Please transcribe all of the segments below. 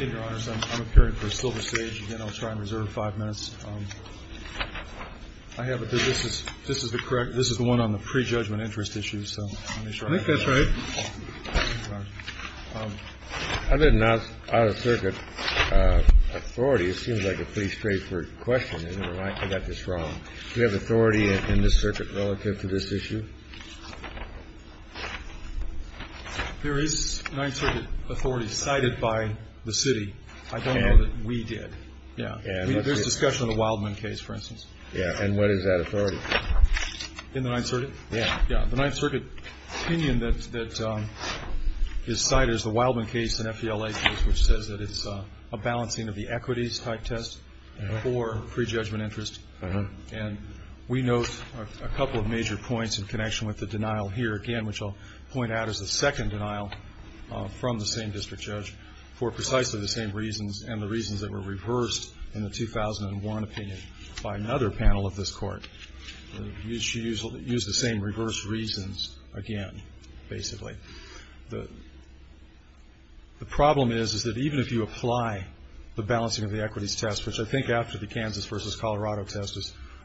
I'm appearing for Silver Sage. Again, I'll try and reserve five minutes. This is the one on the prejudgment interest issue. I think that's right. I didn't ask out-of-circuit authority. It seems like a pretty straightforward question. Never mind, I got this wrong. Do we have authority in this circuit relative to this issue? There is Ninth Circuit authority cited by the city. I don't know that we did. There's discussion of the Wildman case, for instance. And what is that authority? In the Ninth Circuit? Yeah. The Ninth Circuit opinion that is cited is the Wildman case and FELA case, which says that it's a balancing of the equities type test for prejudgment interest. And we note a couple of major points in connection with the denial here, again, which I'll point out is the second denial from the same district judge for precisely the same reasons and the reasons that were reversed in the 2001 opinion by another panel of this Court. They used the same reverse reasons again, basically. The problem is that even if you apply the balancing of the equities test, which I think after the Kansas versus Colorado test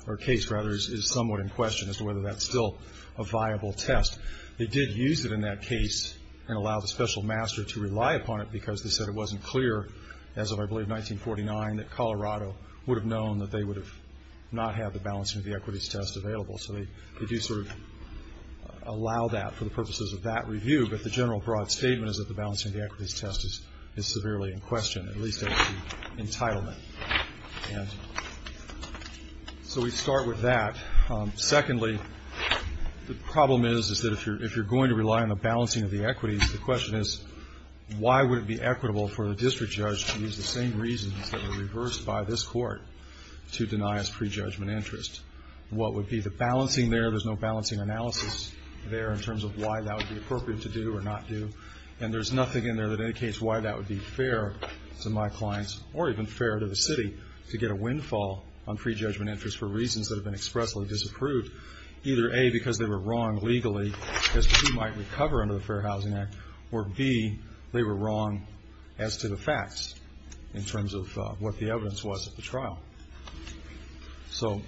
or case, rather, is somewhat in question as to whether that's still a viable test. They did use it in that case and allow the special master to rely upon it because they said it wasn't clear as of, I believe, 1949, that Colorado would have known that they would have not had the balancing of the equities test available. So they do sort of allow that for the purposes of that review, but the general broad statement is that the balancing of the equities test is severely in question, at least as is the entitlement. So we start with that. Secondly, the problem is that if you're going to rely on the balancing of the equities, the question is why would it be equitable for the district judge to use the same reasons that were reversed by this Court to deny us prejudgment interest? What would be the balancing there? There's no balancing analysis there in terms of why that would be appropriate to do or not do, and there's nothing in there that indicates why that would be fair to my clients or even fair to the city to get a windfall on prejudgment interest for reasons that have been expressly disapproved, either A, because they were wrong legally as to who might recover under the Fair Housing Act, or B, they were wrong as to the facts in terms of what the evidence was at the trial. So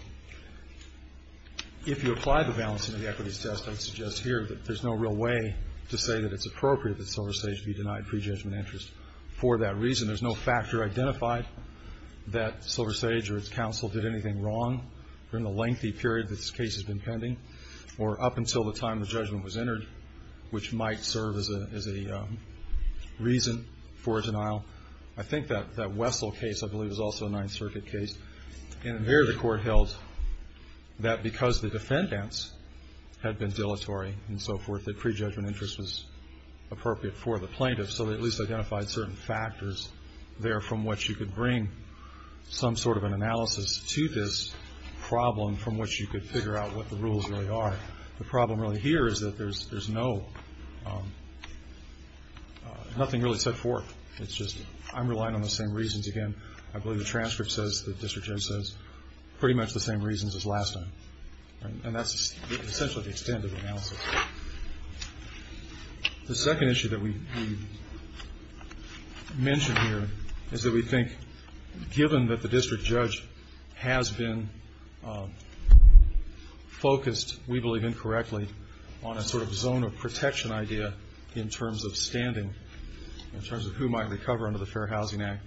if you apply the balancing of the equities test, I would suggest here that there's no real way to say that it's appropriate that SilverSage be denied prejudgment interest for that reason. There's no factor identified that SilverSage or its counsel did anything wrong during the lengthy period that this case has been pending or up until the time the judgment was entered, which might serve as a reason for a denial. I think that Wessel case, I believe, is also a Ninth Circuit case, and there the court held that because the defendants had been dilatory and so forth, that prejudgment interest was appropriate for the plaintiff, so they at least identified certain factors there from which you could bring some sort of an analysis to this problem from which you could figure out what the rules really are. The problem really here is that there's nothing really set forth. It's just I'm relying on the same reasons again. I believe the transcript says the district judge says pretty much the same reasons as last time, and that's essentially the extent of the analysis. The second issue that we mention here is that we think, given that the district judge has been focused, we believe incorrectly, on a sort of zone of protection idea in terms of standing, in terms of who might recover under the Fair Housing Act.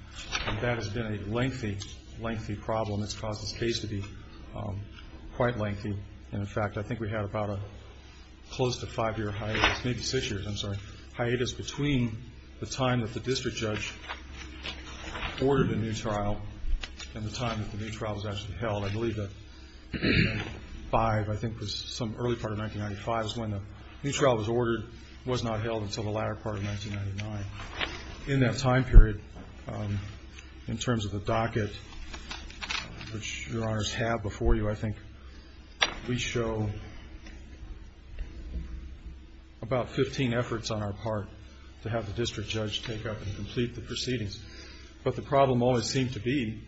That has been a lengthy, lengthy problem. It's caused this case to be quite lengthy, and in fact I think we had about a close to five-year hiatus, maybe six years, I'm sorry, hiatus between the time that the district judge ordered a new trial and the time that the new trial was actually held. I believe that 5, I think, was some early part of 1995 is when the new trial was ordered. It was not held until the latter part of 1999. In that time period, in terms of the docket, which Your Honors have before you, I think we show about 15 efforts on our part to have the district judge take up and complete the proceedings. But the problem always seemed to be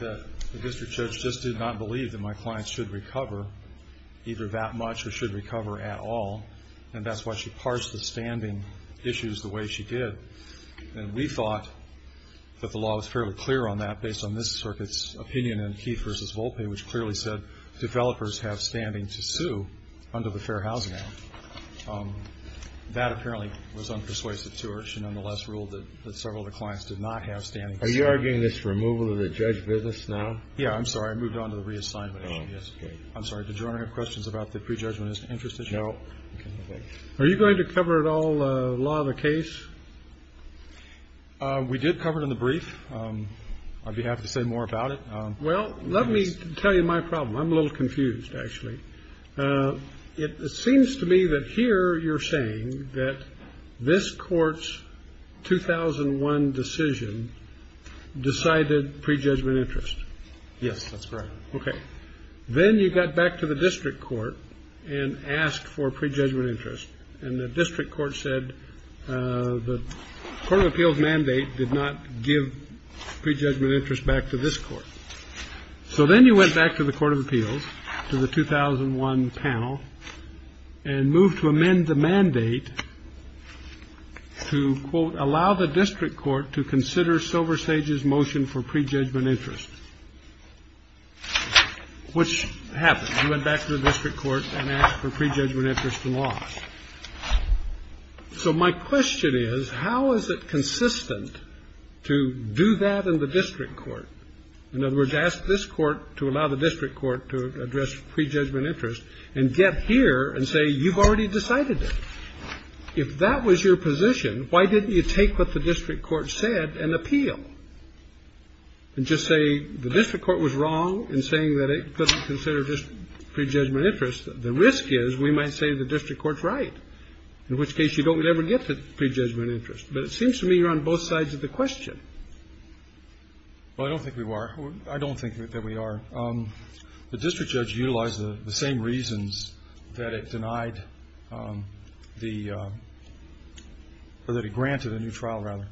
that the district judge just did not believe that my client should recover either that much or should recover at all, and that's why she parsed the standing issues the way she did. And we thought that the law was fairly clear on that, based on this circuit's opinion in Key v. Volpe, which clearly said developers have standing to sue under the Fair Housing Act. That apparently was unpersuasive to her. She nonetheless ruled that several of the clients did not have standing to sue. Are you arguing this removal of the judge business now? Yeah, I'm sorry. I moved on to the reassignment issue yesterday. I'm sorry. Did Your Honor have questions about the prejudgment interest issue? No. Are you going to cover it all, the law of the case? We did cover it in the brief. I'd be happy to say more about it. Well, let me tell you my problem. I'm a little confused, actually. It seems to me that here you're saying that this court's 2001 decision decided prejudgment interest. Yes, that's correct. Okay. Then you got back to the district court and asked for prejudgment interest. And the district court said the Court of Appeals mandate did not give prejudgment interest back to this court. So then you went back to the Court of Appeals, to the 2001 panel, and moved to amend the mandate to, quote, allow the district court to consider SilverSage's motion for prejudgment interest, which happened. You went back to the district court and asked for prejudgment interest in law. So my question is, how is it consistent to do that in the district court? In other words, ask this court to allow the district court to address prejudgment interest and get here and say you've already decided it. If that was your position, why didn't you take what the district court said and appeal and just say the district court was wrong in saying that it couldn't consider prejudgment interest? The risk is we might say the district court's right, in which case you don't ever get to prejudgment interest. But it seems to me you're on both sides of the question. Well, I don't think we are. I don't think that we are. The district judge utilized the same reasons that it denied the or that it granted a new trial, rather,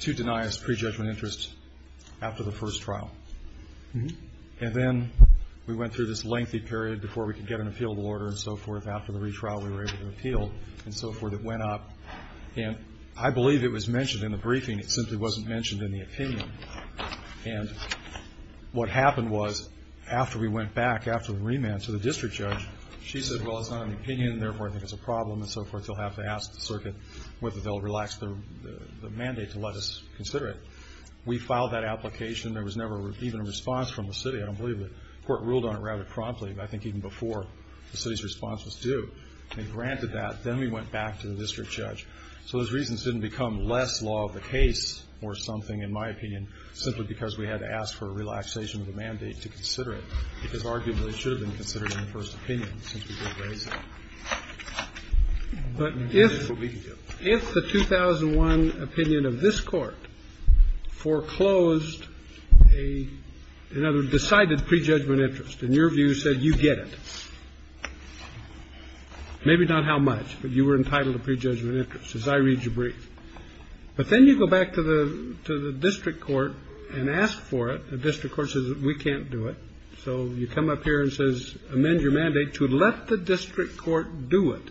to deny us prejudgment interest after the first trial. And then we went through this lengthy period before we could get an appealable order and so forth. After the retrial, we were able to appeal and so forth. It went up. And I believe it was mentioned in the briefing. It simply wasn't mentioned in the opinion. And what happened was after we went back after the remand to the district judge, she said, well, it's not an opinion, therefore I think it's a problem and so forth. They'll have to ask the circuit whether they'll relax the mandate to let us consider it. We filed that application. There was never even a response from the city. I don't believe the court ruled on it rather promptly, but I think even before the city's response was due. They granted that. Then we went back to the district judge. So those reasons didn't become less law of the case or something, in my opinion, simply because we had to ask for a relaxation of the mandate to consider it, because arguably it should have been considered in the first opinion since we didn't raise it. But if the 2001 opinion of this Court foreclosed a, in other words, decided prejudgment interest and your view said you get it, maybe not how much, but you were entitled to prejudgment interest, as I read your brief. But then you go back to the district court and ask for it. The district court says we can't do it. So you come up here and says amend your mandate to let the district court do it.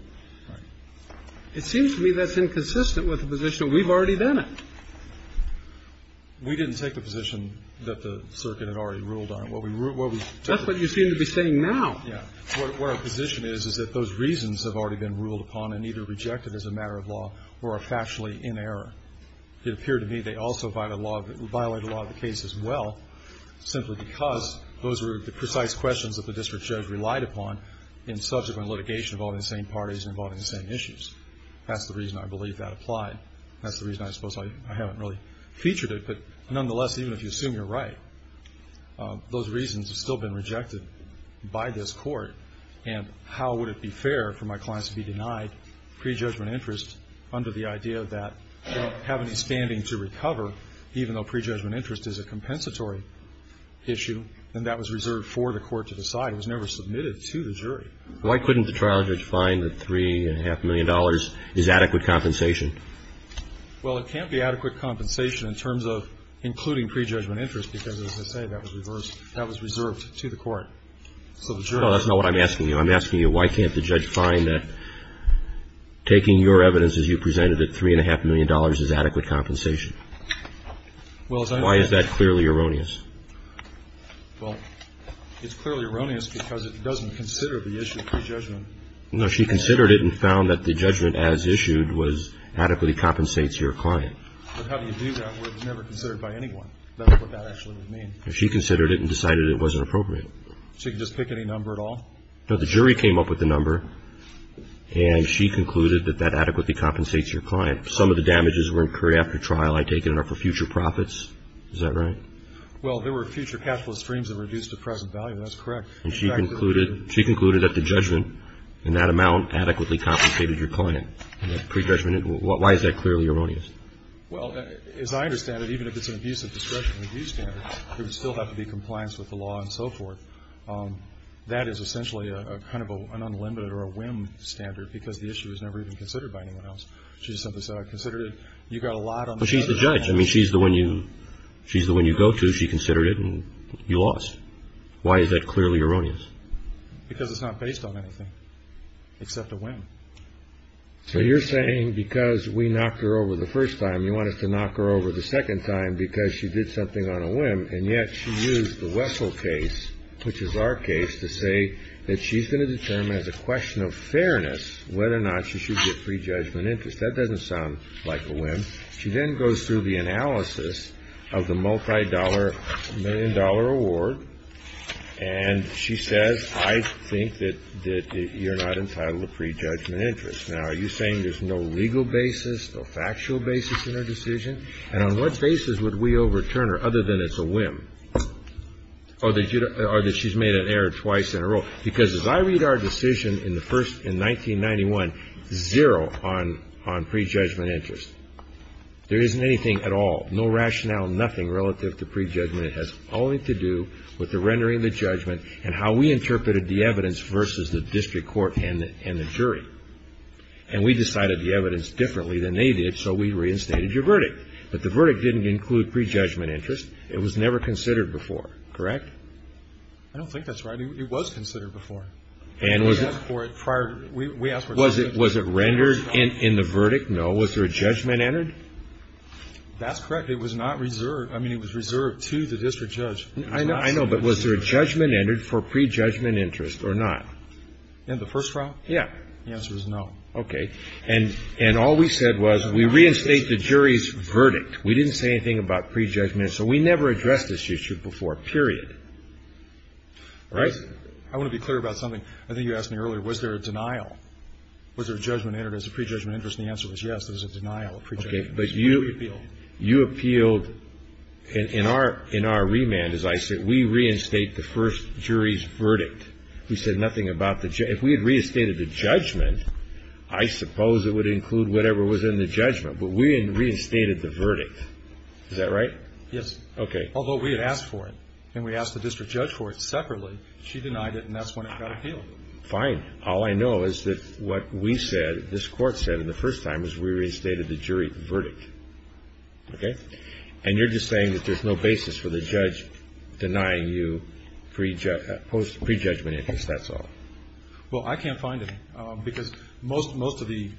It seems to me that's inconsistent with the position that we've already done it. We didn't take the position that the circuit had already ruled on it. That's what you seem to be saying now. Yeah. What our position is is that those reasons have already been ruled upon and either rejected as a matter of law or are factually in error. It appeared to me they also violate the law of the case as well, simply because those were the precise questions that the district judge relied upon in subsequent litigation involving the same parties and involving the same issues. That's the reason I believe that applied. That's the reason I suppose I haven't really featured it. But nonetheless, even if you assume you're right, those reasons have still been rejected by this Court. And how would it be fair for my clients to be denied prejudgment interest under the idea that they don't have any standing to recover, even though prejudgment interest is a compensatory issue, and that was reserved for the Court to decide. It was never submitted to the jury. Why couldn't the trial judge find that $3.5 million is adequate compensation? Well, it can't be adequate compensation in terms of including prejudgment interest because, as I say, that was reversed. That was reserved to the Court. No, that's not what I'm asking you. I'm asking you why can't the judge find that taking your evidence as you presented it, $3.5 million is adequate compensation? Why is that clearly erroneous? Well, it's clearly erroneous because it doesn't consider the issue of prejudgment. No, she considered it and found that the judgment as issued adequately compensates your client. But how do you do that when it's never considered by anyone? That's what that actually would mean. She considered it and decided it wasn't appropriate. She can just pick any number at all? No. The jury came up with the number, and she concluded that that adequately compensates your client. Some of the damages were incurred after trial, I take it, are for future profits. Is that right? Well, there were future cash flow streams that reduced the present value. That's correct. And she concluded that the judgment in that amount adequately compensated your client. Prejudgment, why is that clearly erroneous? Well, as I understand it, even if it's an abuse of discretion and abuse standards, there would still have to be compliance with the law and so forth. That is essentially a kind of an unlimited or a whim standard because the issue was never even considered by anyone else. She just simply said, I considered it. You got a lot on the side. But she's the judge. I mean, she's the one you go to. She considered it, and you lost. Why is that clearly erroneous? Because it's not based on anything except a whim. So you're saying because we knocked her over the first time, you want us to knock her over the second time because she did something on a whim, and yet she used the Wessel case, which is our case, to say that she's going to determine as a question of fairness whether or not she should get prejudgment interest. That doesn't sound like a whim. She then goes through the analysis of the multi-dollar, million-dollar award, and she says, I think that you're not entitled to prejudgment interest. Now, are you saying there's no legal basis, no factual basis in her decision? And on what basis would we overturn her other than it's a whim or that she's made an error twice in a row? Because as I read our decision in 1991, zero on prejudgment interest. There isn't anything at all, no rationale, nothing relative to prejudgment. It has only to do with the rendering of the judgment and how we interpreted the evidence versus the district court and the jury. And we decided the evidence differently than they did, so we reinstated your verdict. But the verdict didn't include prejudgment interest. It was never considered before, correct? I don't think that's right. It was considered before. And was it? We asked for it prior. We asked for it prior. Was it rendered in the verdict? No. Was there a judgment entered? That's correct. It was not reserved. I mean, it was reserved to the district judge. I know. But was there a judgment entered for prejudgment interest or not? In the first trial? Yeah. The answer is no. Okay. And all we said was we reinstate the jury's verdict. We didn't say anything about prejudgment. So we never addressed this issue before, period. Right? I want to be clear about something. I think you asked me earlier. Was there a denial? Was there a judgment entered as a prejudgment interest? And the answer was yes, there was a denial of prejudgment interest. Okay. But you appealed. You appealed. In our remand, as I said, we reinstate the first jury's verdict. We said nothing about the judgment. If we had reinstated the judgment, I suppose it would include whatever was in the judgment. But we reinstated the verdict. Is that right? Yes. Okay. Although we had asked for it. And we asked the district judge for it separately. She denied it, and that's when it got appealed. Fine. All I know is that what we said, this Court said the first time is we reinstated the jury verdict. Okay? And you're just saying that there's no basis for the judge denying you prejudgment interest. That's all. Well, I can't find it. Because most of the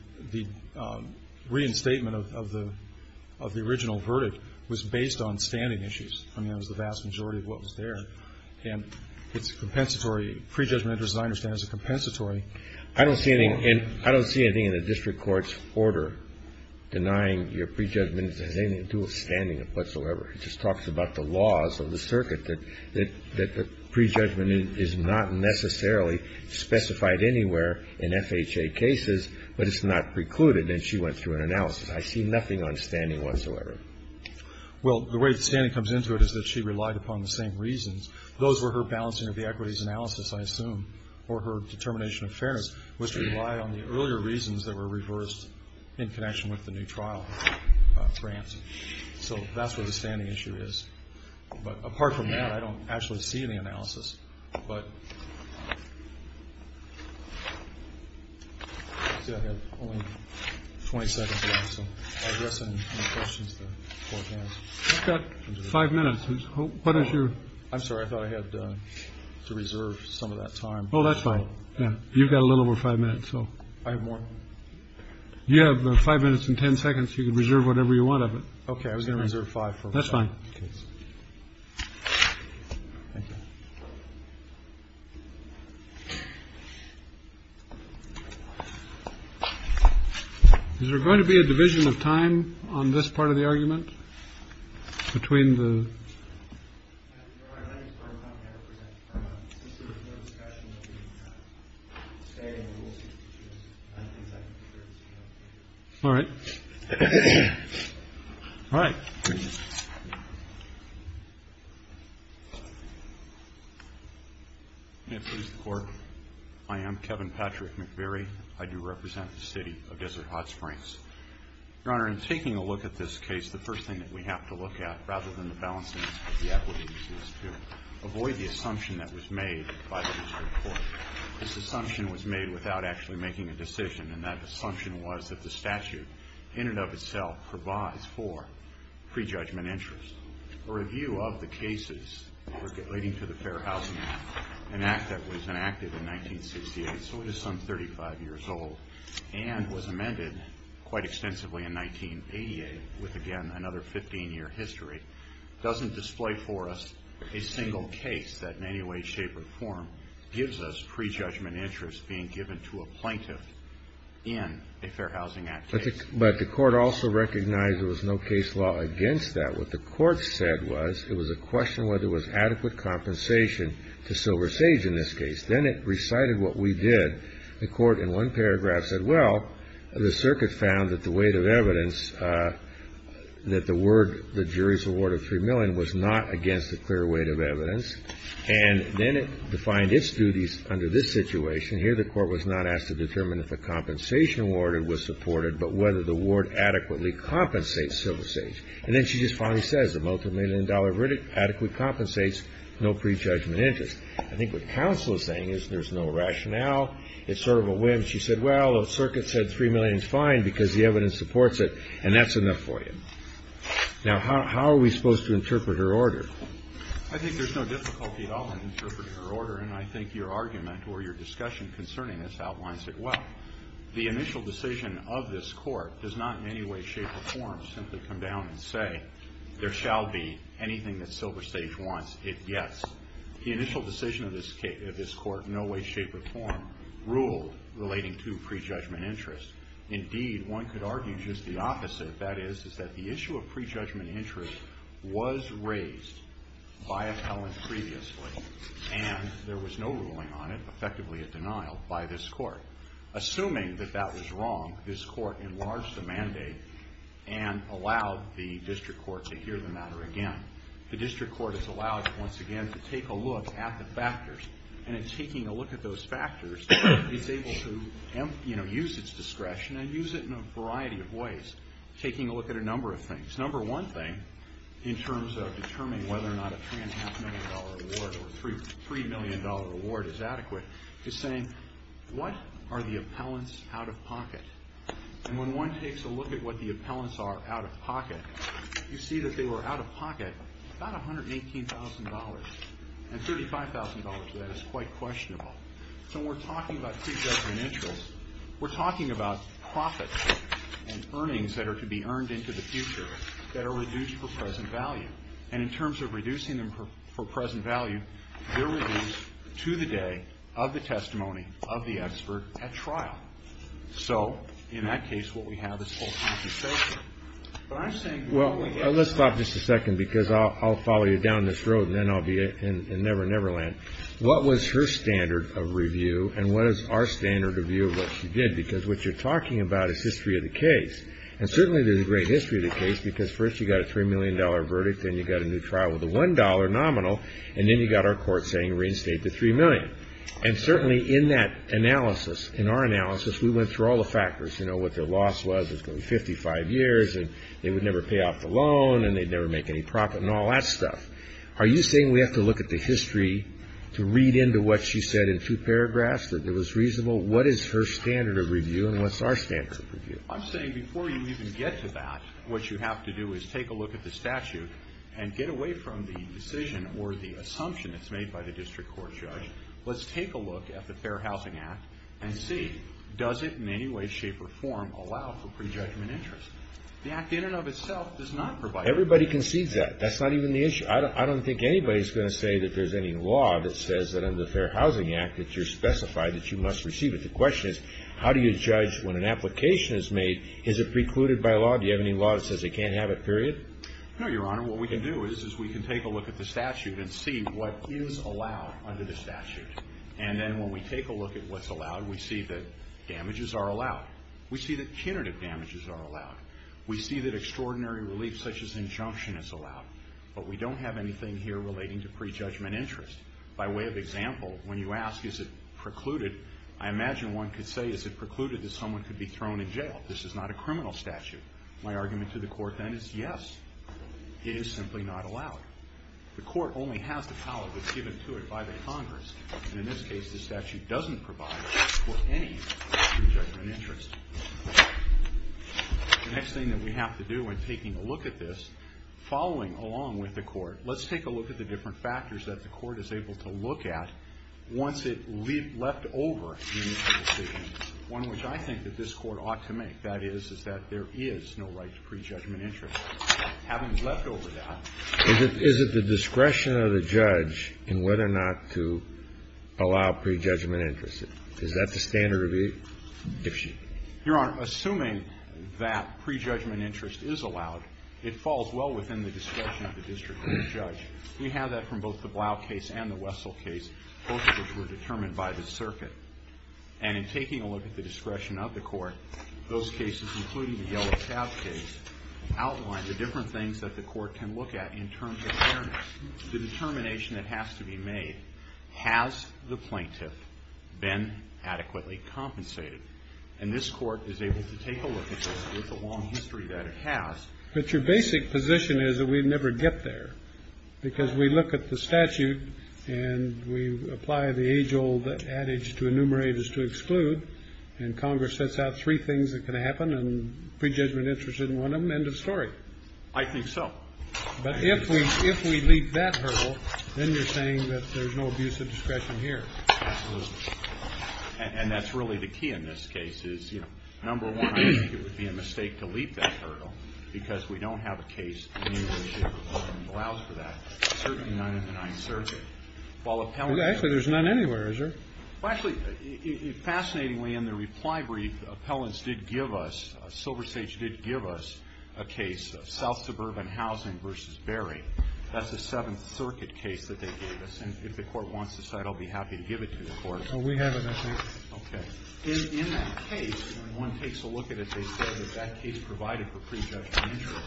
reinstatement of the original verdict was based on standing issues. I mean, it was the vast majority of what was there. And it's a compensatory. Prejudgment interest, as I understand it, is a compensatory. I don't see anything in the district court's order denying your prejudgment interest has anything to do with standing whatsoever. It just talks about the laws of the circuit, that the prejudgment is not necessarily specified anywhere in FHA cases, but it's not precluded. And she went through an analysis. I see nothing on standing whatsoever. Well, the way that standing comes into it is that she relied upon the same reasons. Those were her balancing of the equities analysis, I assume, or her determination of fairness, which relied on the earlier reasons that were reversed in connection with the new trial grant. So that's where the standing issue is. But apart from that, I don't actually see any analysis. But. Five minutes. What is your. I'm sorry. I thought I had to reserve some of that time. Oh, that's fine. You've got a little over five minutes. So I have more. You have five minutes and 10 seconds. You can reserve whatever you want of it. OK. I was going to reserve five. That's fine. Is there going to be a division of time on this part of the argument between the. All right. All right. I am Kevin Patrick McBury. I do represent the city of Desert Hot Springs. Your Honor, in taking a look at this case, the first thing that we have to look at, rather than the balancing of the equity issues, is to avoid the assumption that was made by the district court. This assumption was made without actually making a decision, and that assumption was that the statute in and of itself provides for prejudgment interest. A review of the cases relating to the Fair Housing Act, an act that was enacted in 1968, so it is some 35 years old, and was amended quite extensively in 1988 with, again, another 15-year history, doesn't display for us a single case that in any way, shape, or form, gives us prejudgment interest being given to a plaintiff in a Fair Housing Act case. But the court also recognized there was no case law against that. What the court said was it was a question of whether there was adequate compensation to Silver Sage in this case. Then it recited what we did. The court, in one paragraph, said, well, the circuit found that the weight of evidence, that the word, the jury's award of $3 million, was not against a clear weight of evidence. And then it defined its duties under this situation. Here the court was not asked to determine if a compensation award was supported, but whether the award adequately compensates Silver Sage. And then she just finally says the multimillion-dollar verdict adequately compensates no prejudgment interest. I think what counsel is saying is there's no rationale. It's sort of a whim. She said, well, the circuit said $3 million is fine because the evidence supports it, and that's enough for you. Now, how are we supposed to interpret her order? I think there's no difficulty at all in interpreting her order, and I think your argument or your discussion concerning this outlines it well. The initial decision of this court does not in any way, shape, or form, simply come down and say there shall be anything that Silver Sage wants, if yes. The initial decision of this court in no way, shape, or form ruled relating to prejudgment interest. Indeed, one could argue just the opposite. That is, is that the issue of prejudgment interest was raised by a felon previously, and there was no ruling on it, effectively a denial, by this court. Assuming that that was wrong, this court enlarged the mandate and allowed the district court to hear the matter again. The district court is allowed, once again, to take a look at the factors, and in taking a look at those factors, it's able to use its discretion and use it in a variety of ways, taking a look at a number of things. Number one thing, in terms of determining whether or not a $3.5 million award or $3 million award is adequate, is saying, what are the appellants out of pocket? And when one takes a look at what the appellants are out of pocket, you see that they were out of pocket about $118,000. And $35,000 for that is quite questionable. So when we're talking about prejudgment interest, we're talking about profits and earnings that are to be earned into the future that are reduced for present value. And in terms of reducing them for present value, they're reduced to the day of the testimony of the expert at trial. So, in that case, what we have is full compensation. Well, let's stop just a second, because I'll follow you down this road, and then I'll be in Never Never Land. What was her standard of review, and what is our standard of view of what she did? Because what you're talking about is history of the case. And certainly there's a great history of the case, because first you got a $3 million verdict, then you got a new trial with a $1 nominal, and then you got our court saying reinstate the $3 million. And certainly in that analysis, in our analysis, we went through all the factors. You know, what their loss was was going to be 55 years, and they would never pay off the loan, and they'd never make any profit, and all that stuff. Are you saying we have to look at the history to read into what she said in two paragraphs, that it was reasonable? What is her standard of review, and what's our standard of review? I'm saying before you even get to that, what you have to do is take a look at the statute and get away from the decision or the assumption that's made by the district court judge. Let's take a look at the Fair Housing Act and see, does it in any way, shape, or form allow for prejudgment interest? The Act in and of itself does not provide that. Everybody concedes that. That's not even the issue. I don't think anybody's going to say that there's any law that says that under the Fair Housing Act that you're specified that you must receive it. The question is, how do you judge when an application is made? Is it precluded by law? Do you have any law that says they can't have it, period? No, Your Honor. Your Honor, what we can do is we can take a look at the statute and see what is allowed under the statute. And then when we take a look at what's allowed, we see that damages are allowed. We see that punitive damages are allowed. We see that extraordinary relief such as injunction is allowed. But we don't have anything here relating to prejudgment interest. By way of example, when you ask, is it precluded, I imagine one could say, is it precluded that someone could be thrown in jail? This is not a criminal statute. My argument to the court then is, yes, it is simply not allowed. The court only has the power that's given to it by the Congress. And in this case, the statute doesn't provide for any prejudgment interest. The next thing that we have to do in taking a look at this, following along with the court, let's take a look at the different factors that the court is able to look at once it left over the initial decision. One which I think that this Court ought to make, that is, is that there is no right to prejudgment interest. Having left over that. Kennedy. Is it the discretion of the judge in whether or not to allow prejudgment interest? Is that the standard review? If she can. Your Honor, assuming that prejudgment interest is allowed, it falls well within the discretion of the district court judge. We have that from both the Blau case and the Wessel case, both of which were determined by the circuit. And in taking a look at the discretion of the court, those cases, including the Yellow Tab case, outline the different things that the court can look at in terms of fairness. The determination that has to be made, has the plaintiff been adequately compensated? And this Court is able to take a look at this with the long history that it has. But your basic position is that we never get there. Because we look at the statute, and we apply the age-old adage to enumerate is to exclude, and Congress sets out three things that can happen, and prejudgment interest in one of them, end of story. I think so. But if we leap that hurdle, then you're saying that there's no abuse of discretion here. Absolutely. And that's really the key in this case, is, you know, number one, I think it would be a mistake to leap that hurdle, because we don't have a case that allows for that, certainly not in the Ninth Circuit. Actually, there's none anywhere, is there? Well, actually, fascinatingly, in the reply brief, appellants did give us, SilverState did give us, a case of South Suburban Housing v. Berry. That's a Seventh Circuit case that they gave us. And if the Court wants the site, I'll be happy to give it to the Court. Well, we have it, I think. Okay. In that case, when one takes a look at it, they said that that case provided for prejudgment interest.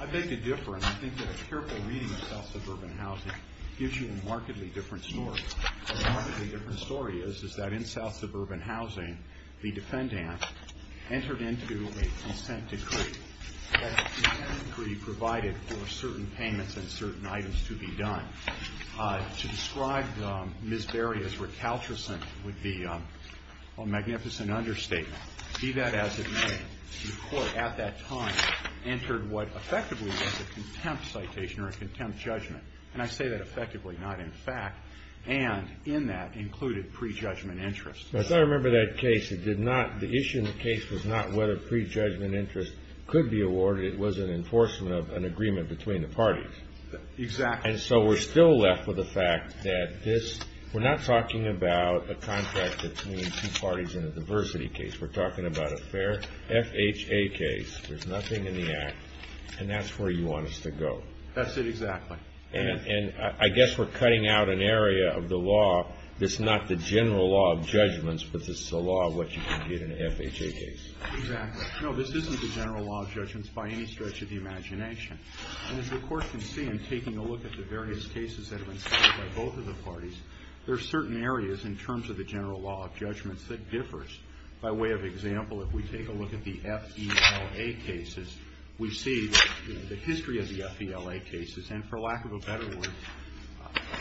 I beg to differ, and I think that a careful reading of South Suburban Housing gives you a markedly different story. What a markedly different story is, is that in South Suburban Housing, the defendant entered into a consent decree. To describe Ms. Berry as recalcitrant would be a magnificent understatement. Be that as it may, the Court at that time entered what effectively was a contempt citation or a contempt judgment. And I say that effectively, not in fact. And in that included prejudgment interest. I thought I remember that case. It did not. The issue in the case was not whether prejudgment interest could be awarded. It was an enforcement of an agreement between the parties. Exactly. And so we're still left with the fact that this, we're not talking about a contract between two parties in a diversity case. We're talking about a fair FHA case. There's nothing in the Act. And that's where you want us to go. That's it, exactly. And I guess we're cutting out an area of the law that's not the general law of judgments, but this is the law of what you can get in an FHA case. Exactly. No, this isn't the general law of judgments by any stretch of the imagination. And as you of course can see in taking a look at the various cases that have been cited by both of the parties, there are certain areas in terms of the general law of judgments that differs. By way of example, if we take a look at the FELA cases, we see the history of the FELA cases, and for lack of a better word,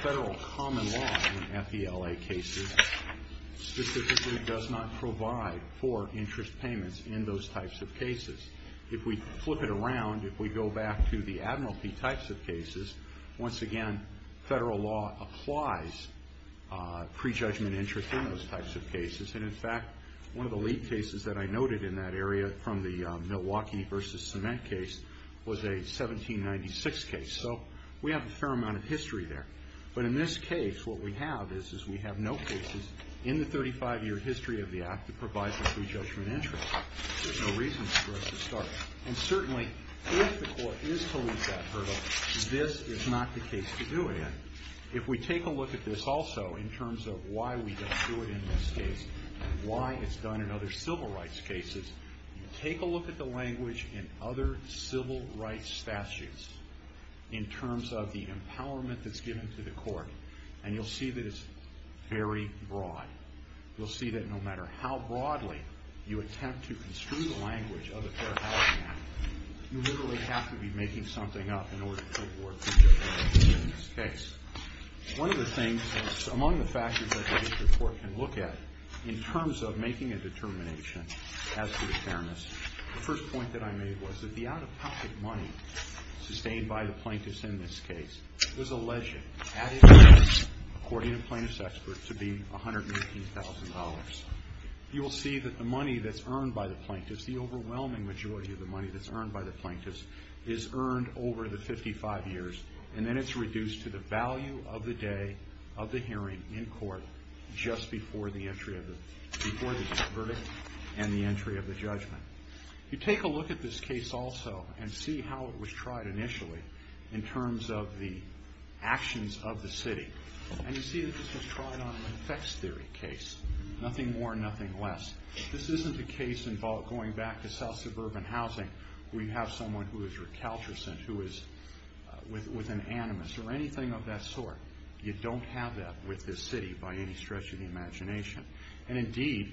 Federal common law in FELA cases specifically If we flip it around, if we go back to the Admiralty types of cases, once again, Federal law applies prejudgment interest in those types of cases. And in fact, one of the lead cases that I noted in that area from the Milwaukee versus Cement case was a 1796 case. So we have a fair amount of history there. But in this case, what we have is we have no cases in the 35-year history of the Act that provides a prejudgment interest. There's no reason for us to start. And certainly, if the court is to leave that hurdle, this is not the case to do it in. If we take a look at this also in terms of why we don't do it in this case and why it's done in other civil rights cases, take a look at the language in other civil rights statutes in terms of the empowerment that's given to the court, and you'll see that it's very broad. You'll see that no matter how broadly you attempt to construe the language of a fair housing act, you literally have to be making something up in order to award prejudgment interest in this case. One of the things, among the factors that the district court can look at in terms of making a determination as to fairness, the first point that I made was that the out-of-pocket money sustained by the plaintiffs in this case was alleged, according to plaintiffs' experts, to be $118,000. You will see that the money that's earned by the plaintiffs, the overwhelming majority of the money that's earned by the plaintiffs, is earned over the 55 years, and then it's reduced to the value of the day of the hearing in court just before the verdict and the entry of the judgment. You take a look at this case also and see how it was tried initially in terms of the actions of the city, and you see that this was tried on an effects theory case, nothing more, nothing less. This isn't a case involving going back to South Suburban Housing, where you have someone who is recalcitrant, who is with an animus, or anything of that sort. You don't have that with this city by any stretch of the imagination, and indeed,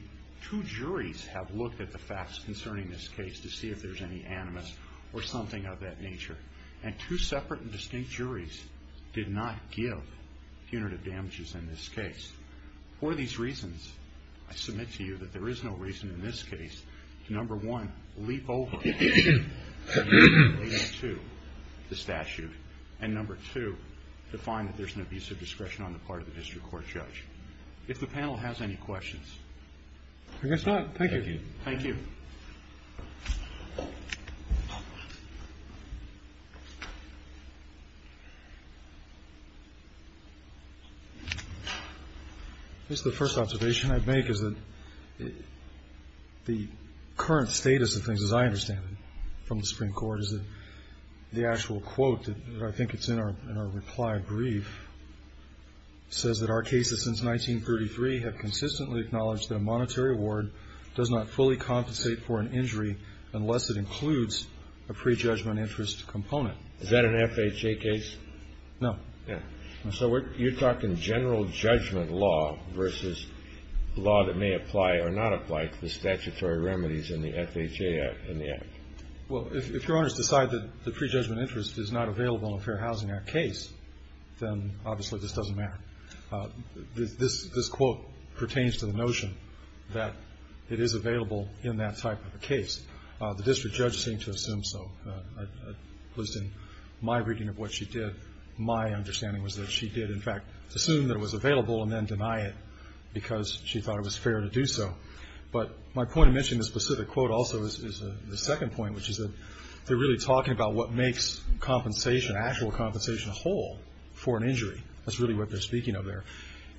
two juries have looked at the facts concerning this case to see if there's any animus or something of that nature, and two separate and distinct juries did not give punitive damages in this case. For these reasons, I submit to you that there is no reason in this case to, number one, leap over to the statute, and number two, to find that there's an abuse of discretion on the part of the district court judge. If the panel has any questions. I guess not. Thank you. Thank you. I guess the first observation I'd make is that the current status of things, as I understand it, from the Supreme Court is that the actual quote that I think is in our reply brief says that our cases since 1933 have consistently acknowledged that a monetary award does not fully compensate for an injury unless it includes a prejudgment interest component. Is that an FHA case? No. So you're talking general judgment law versus law that may apply or not apply to the statutory remedies in the FHA Act. Well, if your honors decide that the prejudgment interest is not available in a Fair Housing Act case, then obviously this doesn't matter. This quote pertains to the notion that it is available in that type of a case. The district judge seemed to assume so. At least in my reading of what she did, my understanding was that she did, in fact, assume that it was available and then deny it because she thought it was fair to do so. But my point in mentioning the specific quote also is the second point, which is that they're really talking about what makes actual compensation a whole for an injury. That's really what they're speaking of there.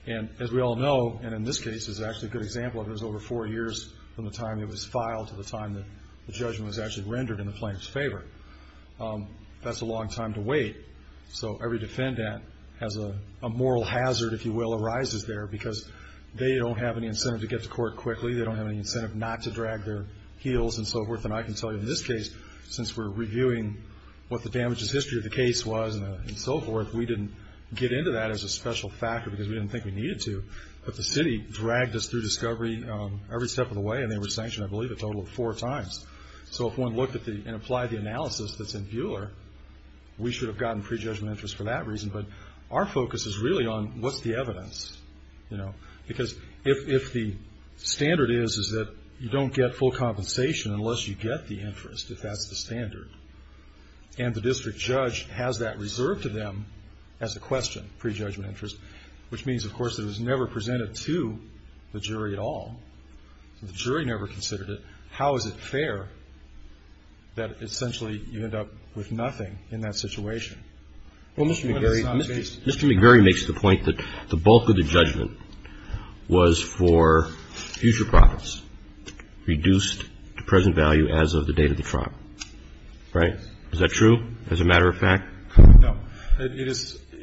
And as we all know, and in this case is actually a good example of it, is over four years from the time it was filed to the time the judgment was actually rendered in the plaintiff's favor. That's a long time to wait. So every defendant has a moral hazard, if you will, arises there, because they don't have any incentive to get to court quickly. They don't have any incentive not to drag their heels and so forth. And I can tell you in this case, since we're reviewing what the damages history of the case was and so forth, we didn't get into that as a special factor because we didn't think we needed to. But the city dragged us through discovery every step of the way, and they were sanctioned, I believe, a total of four times. So if one looked and applied the analysis that's in Buehler, we should have gotten prejudgment interest for that reason. But our focus is really on what's the evidence. Because if the standard is that you don't get full compensation unless you get the interest, if that's the standard, and the district judge has that reserved to them as a question, prejudgment interest, which means, of course, it was never presented to the jury at all. The jury never considered it. How is it fair that essentially you end up with nothing in that situation? Well, Mr. McGarry makes the point that the bulk of the judgment was for future profits, reduced to present value as of the date of the trial. Right? Is that true, as a matter of fact? No. It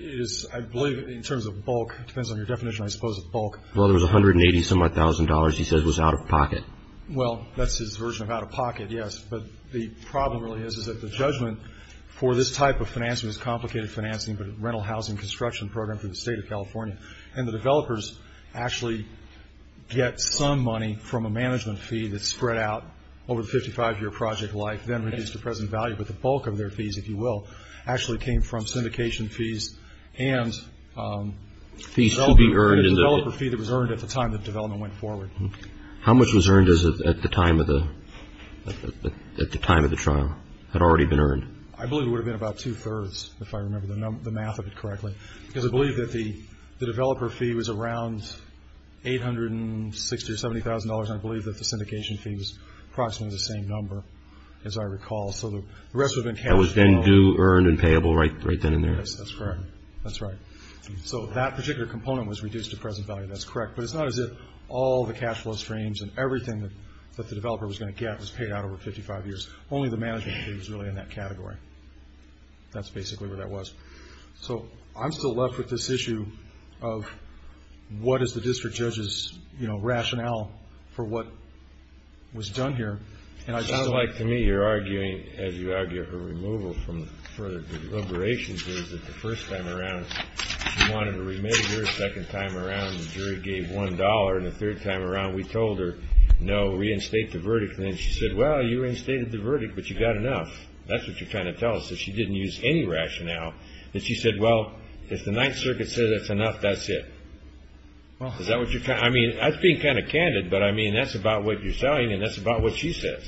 is, I believe, in terms of bulk. It depends on your definition, I suppose, of bulk. Well, there was $180,000-some-odd, he says, was out of pocket. Well, that's his version of out of pocket, yes. But the problem really is that the judgment for this type of financing was complicated financing, but a rental housing construction program for the State of California. And the developers actually get some money from a management fee that's spread out over the 55-year project life, then reduced to present value. But the bulk of their fees, if you will, actually came from syndication fees and fees to be earned. Fees to be earned. A developer fee that was earned at the time the development went forward. How much was earned at the time of the trial? Had it already been earned? I believe it would have been about two-thirds, if I remember the math of it correctly. Because I believe that the developer fee was around $860,000 or $70,000, and I believe that the syndication fee was approximately the same number, as I recall. So the rest would have been cashed out. That was then due, earned, and payable right then and there? Yes, that's correct. That's right. So that particular component was reduced to present value. That's correct. But it's not as if all the cash flow streams and everything that the developer was going to get was paid out over 55 years. Only the management fee was really in that category. That's basically what that was. So I'm still left with this issue of what is the district judge's rationale for what was done here. It seems like to me you're arguing, as you argue for removal from the deliberations, that the first time around she wanted to remit it here. The second time around the jury gave $1. And the third time around we told her, no, reinstate the verdict. And then she said, well, you reinstated the verdict, but you got enough. That's what you're trying to tell us, that she didn't use any rationale. And she said, well, if the Ninth Circuit says that's enough, that's it. Is that what you're – I mean, I'm being kind of candid, but I mean that's about what you're saying and that's about what she says.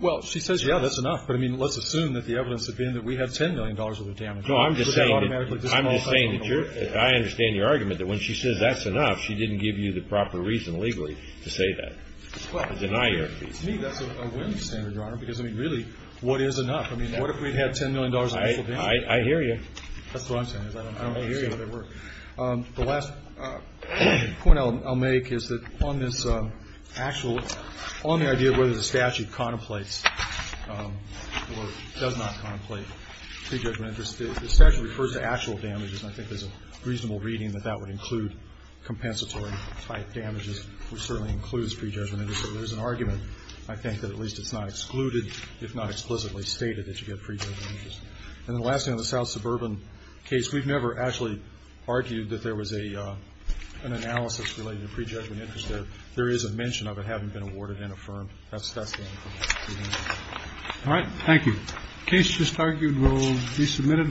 Well, she says, yeah, that's enough. But, I mean, let's assume that the evidence had been that we had $10 million worth of damage. No, I'm just saying that you're – I understand your argument that when she says that's enough, she didn't give you the proper reason legally to say that, to deny her. To me, that's a winning standard, Your Honor, because, I mean, really, what is enough? I mean, what if we had $10 million worth of damage? I hear you. That's what I'm saying. I don't hear you. The last point I'll make is that on this actual – on the idea of whether the statute contemplates or does not contemplate pre-judgment interest, the statute refers to actual damages, and I think there's a reasonable reading that that would include compensatory-type damages, which certainly includes pre-judgment interest. So there's an argument, I think, that at least it's not excluded, if not explicitly stated, that you get pre-judgment interest. And the last thing, on the South Suburban case, we've never actually argued that there was an analysis related to pre-judgment interest there. There is a mention of it having been awarded and affirmed. All right. Thank you. The case just argued will be submitted.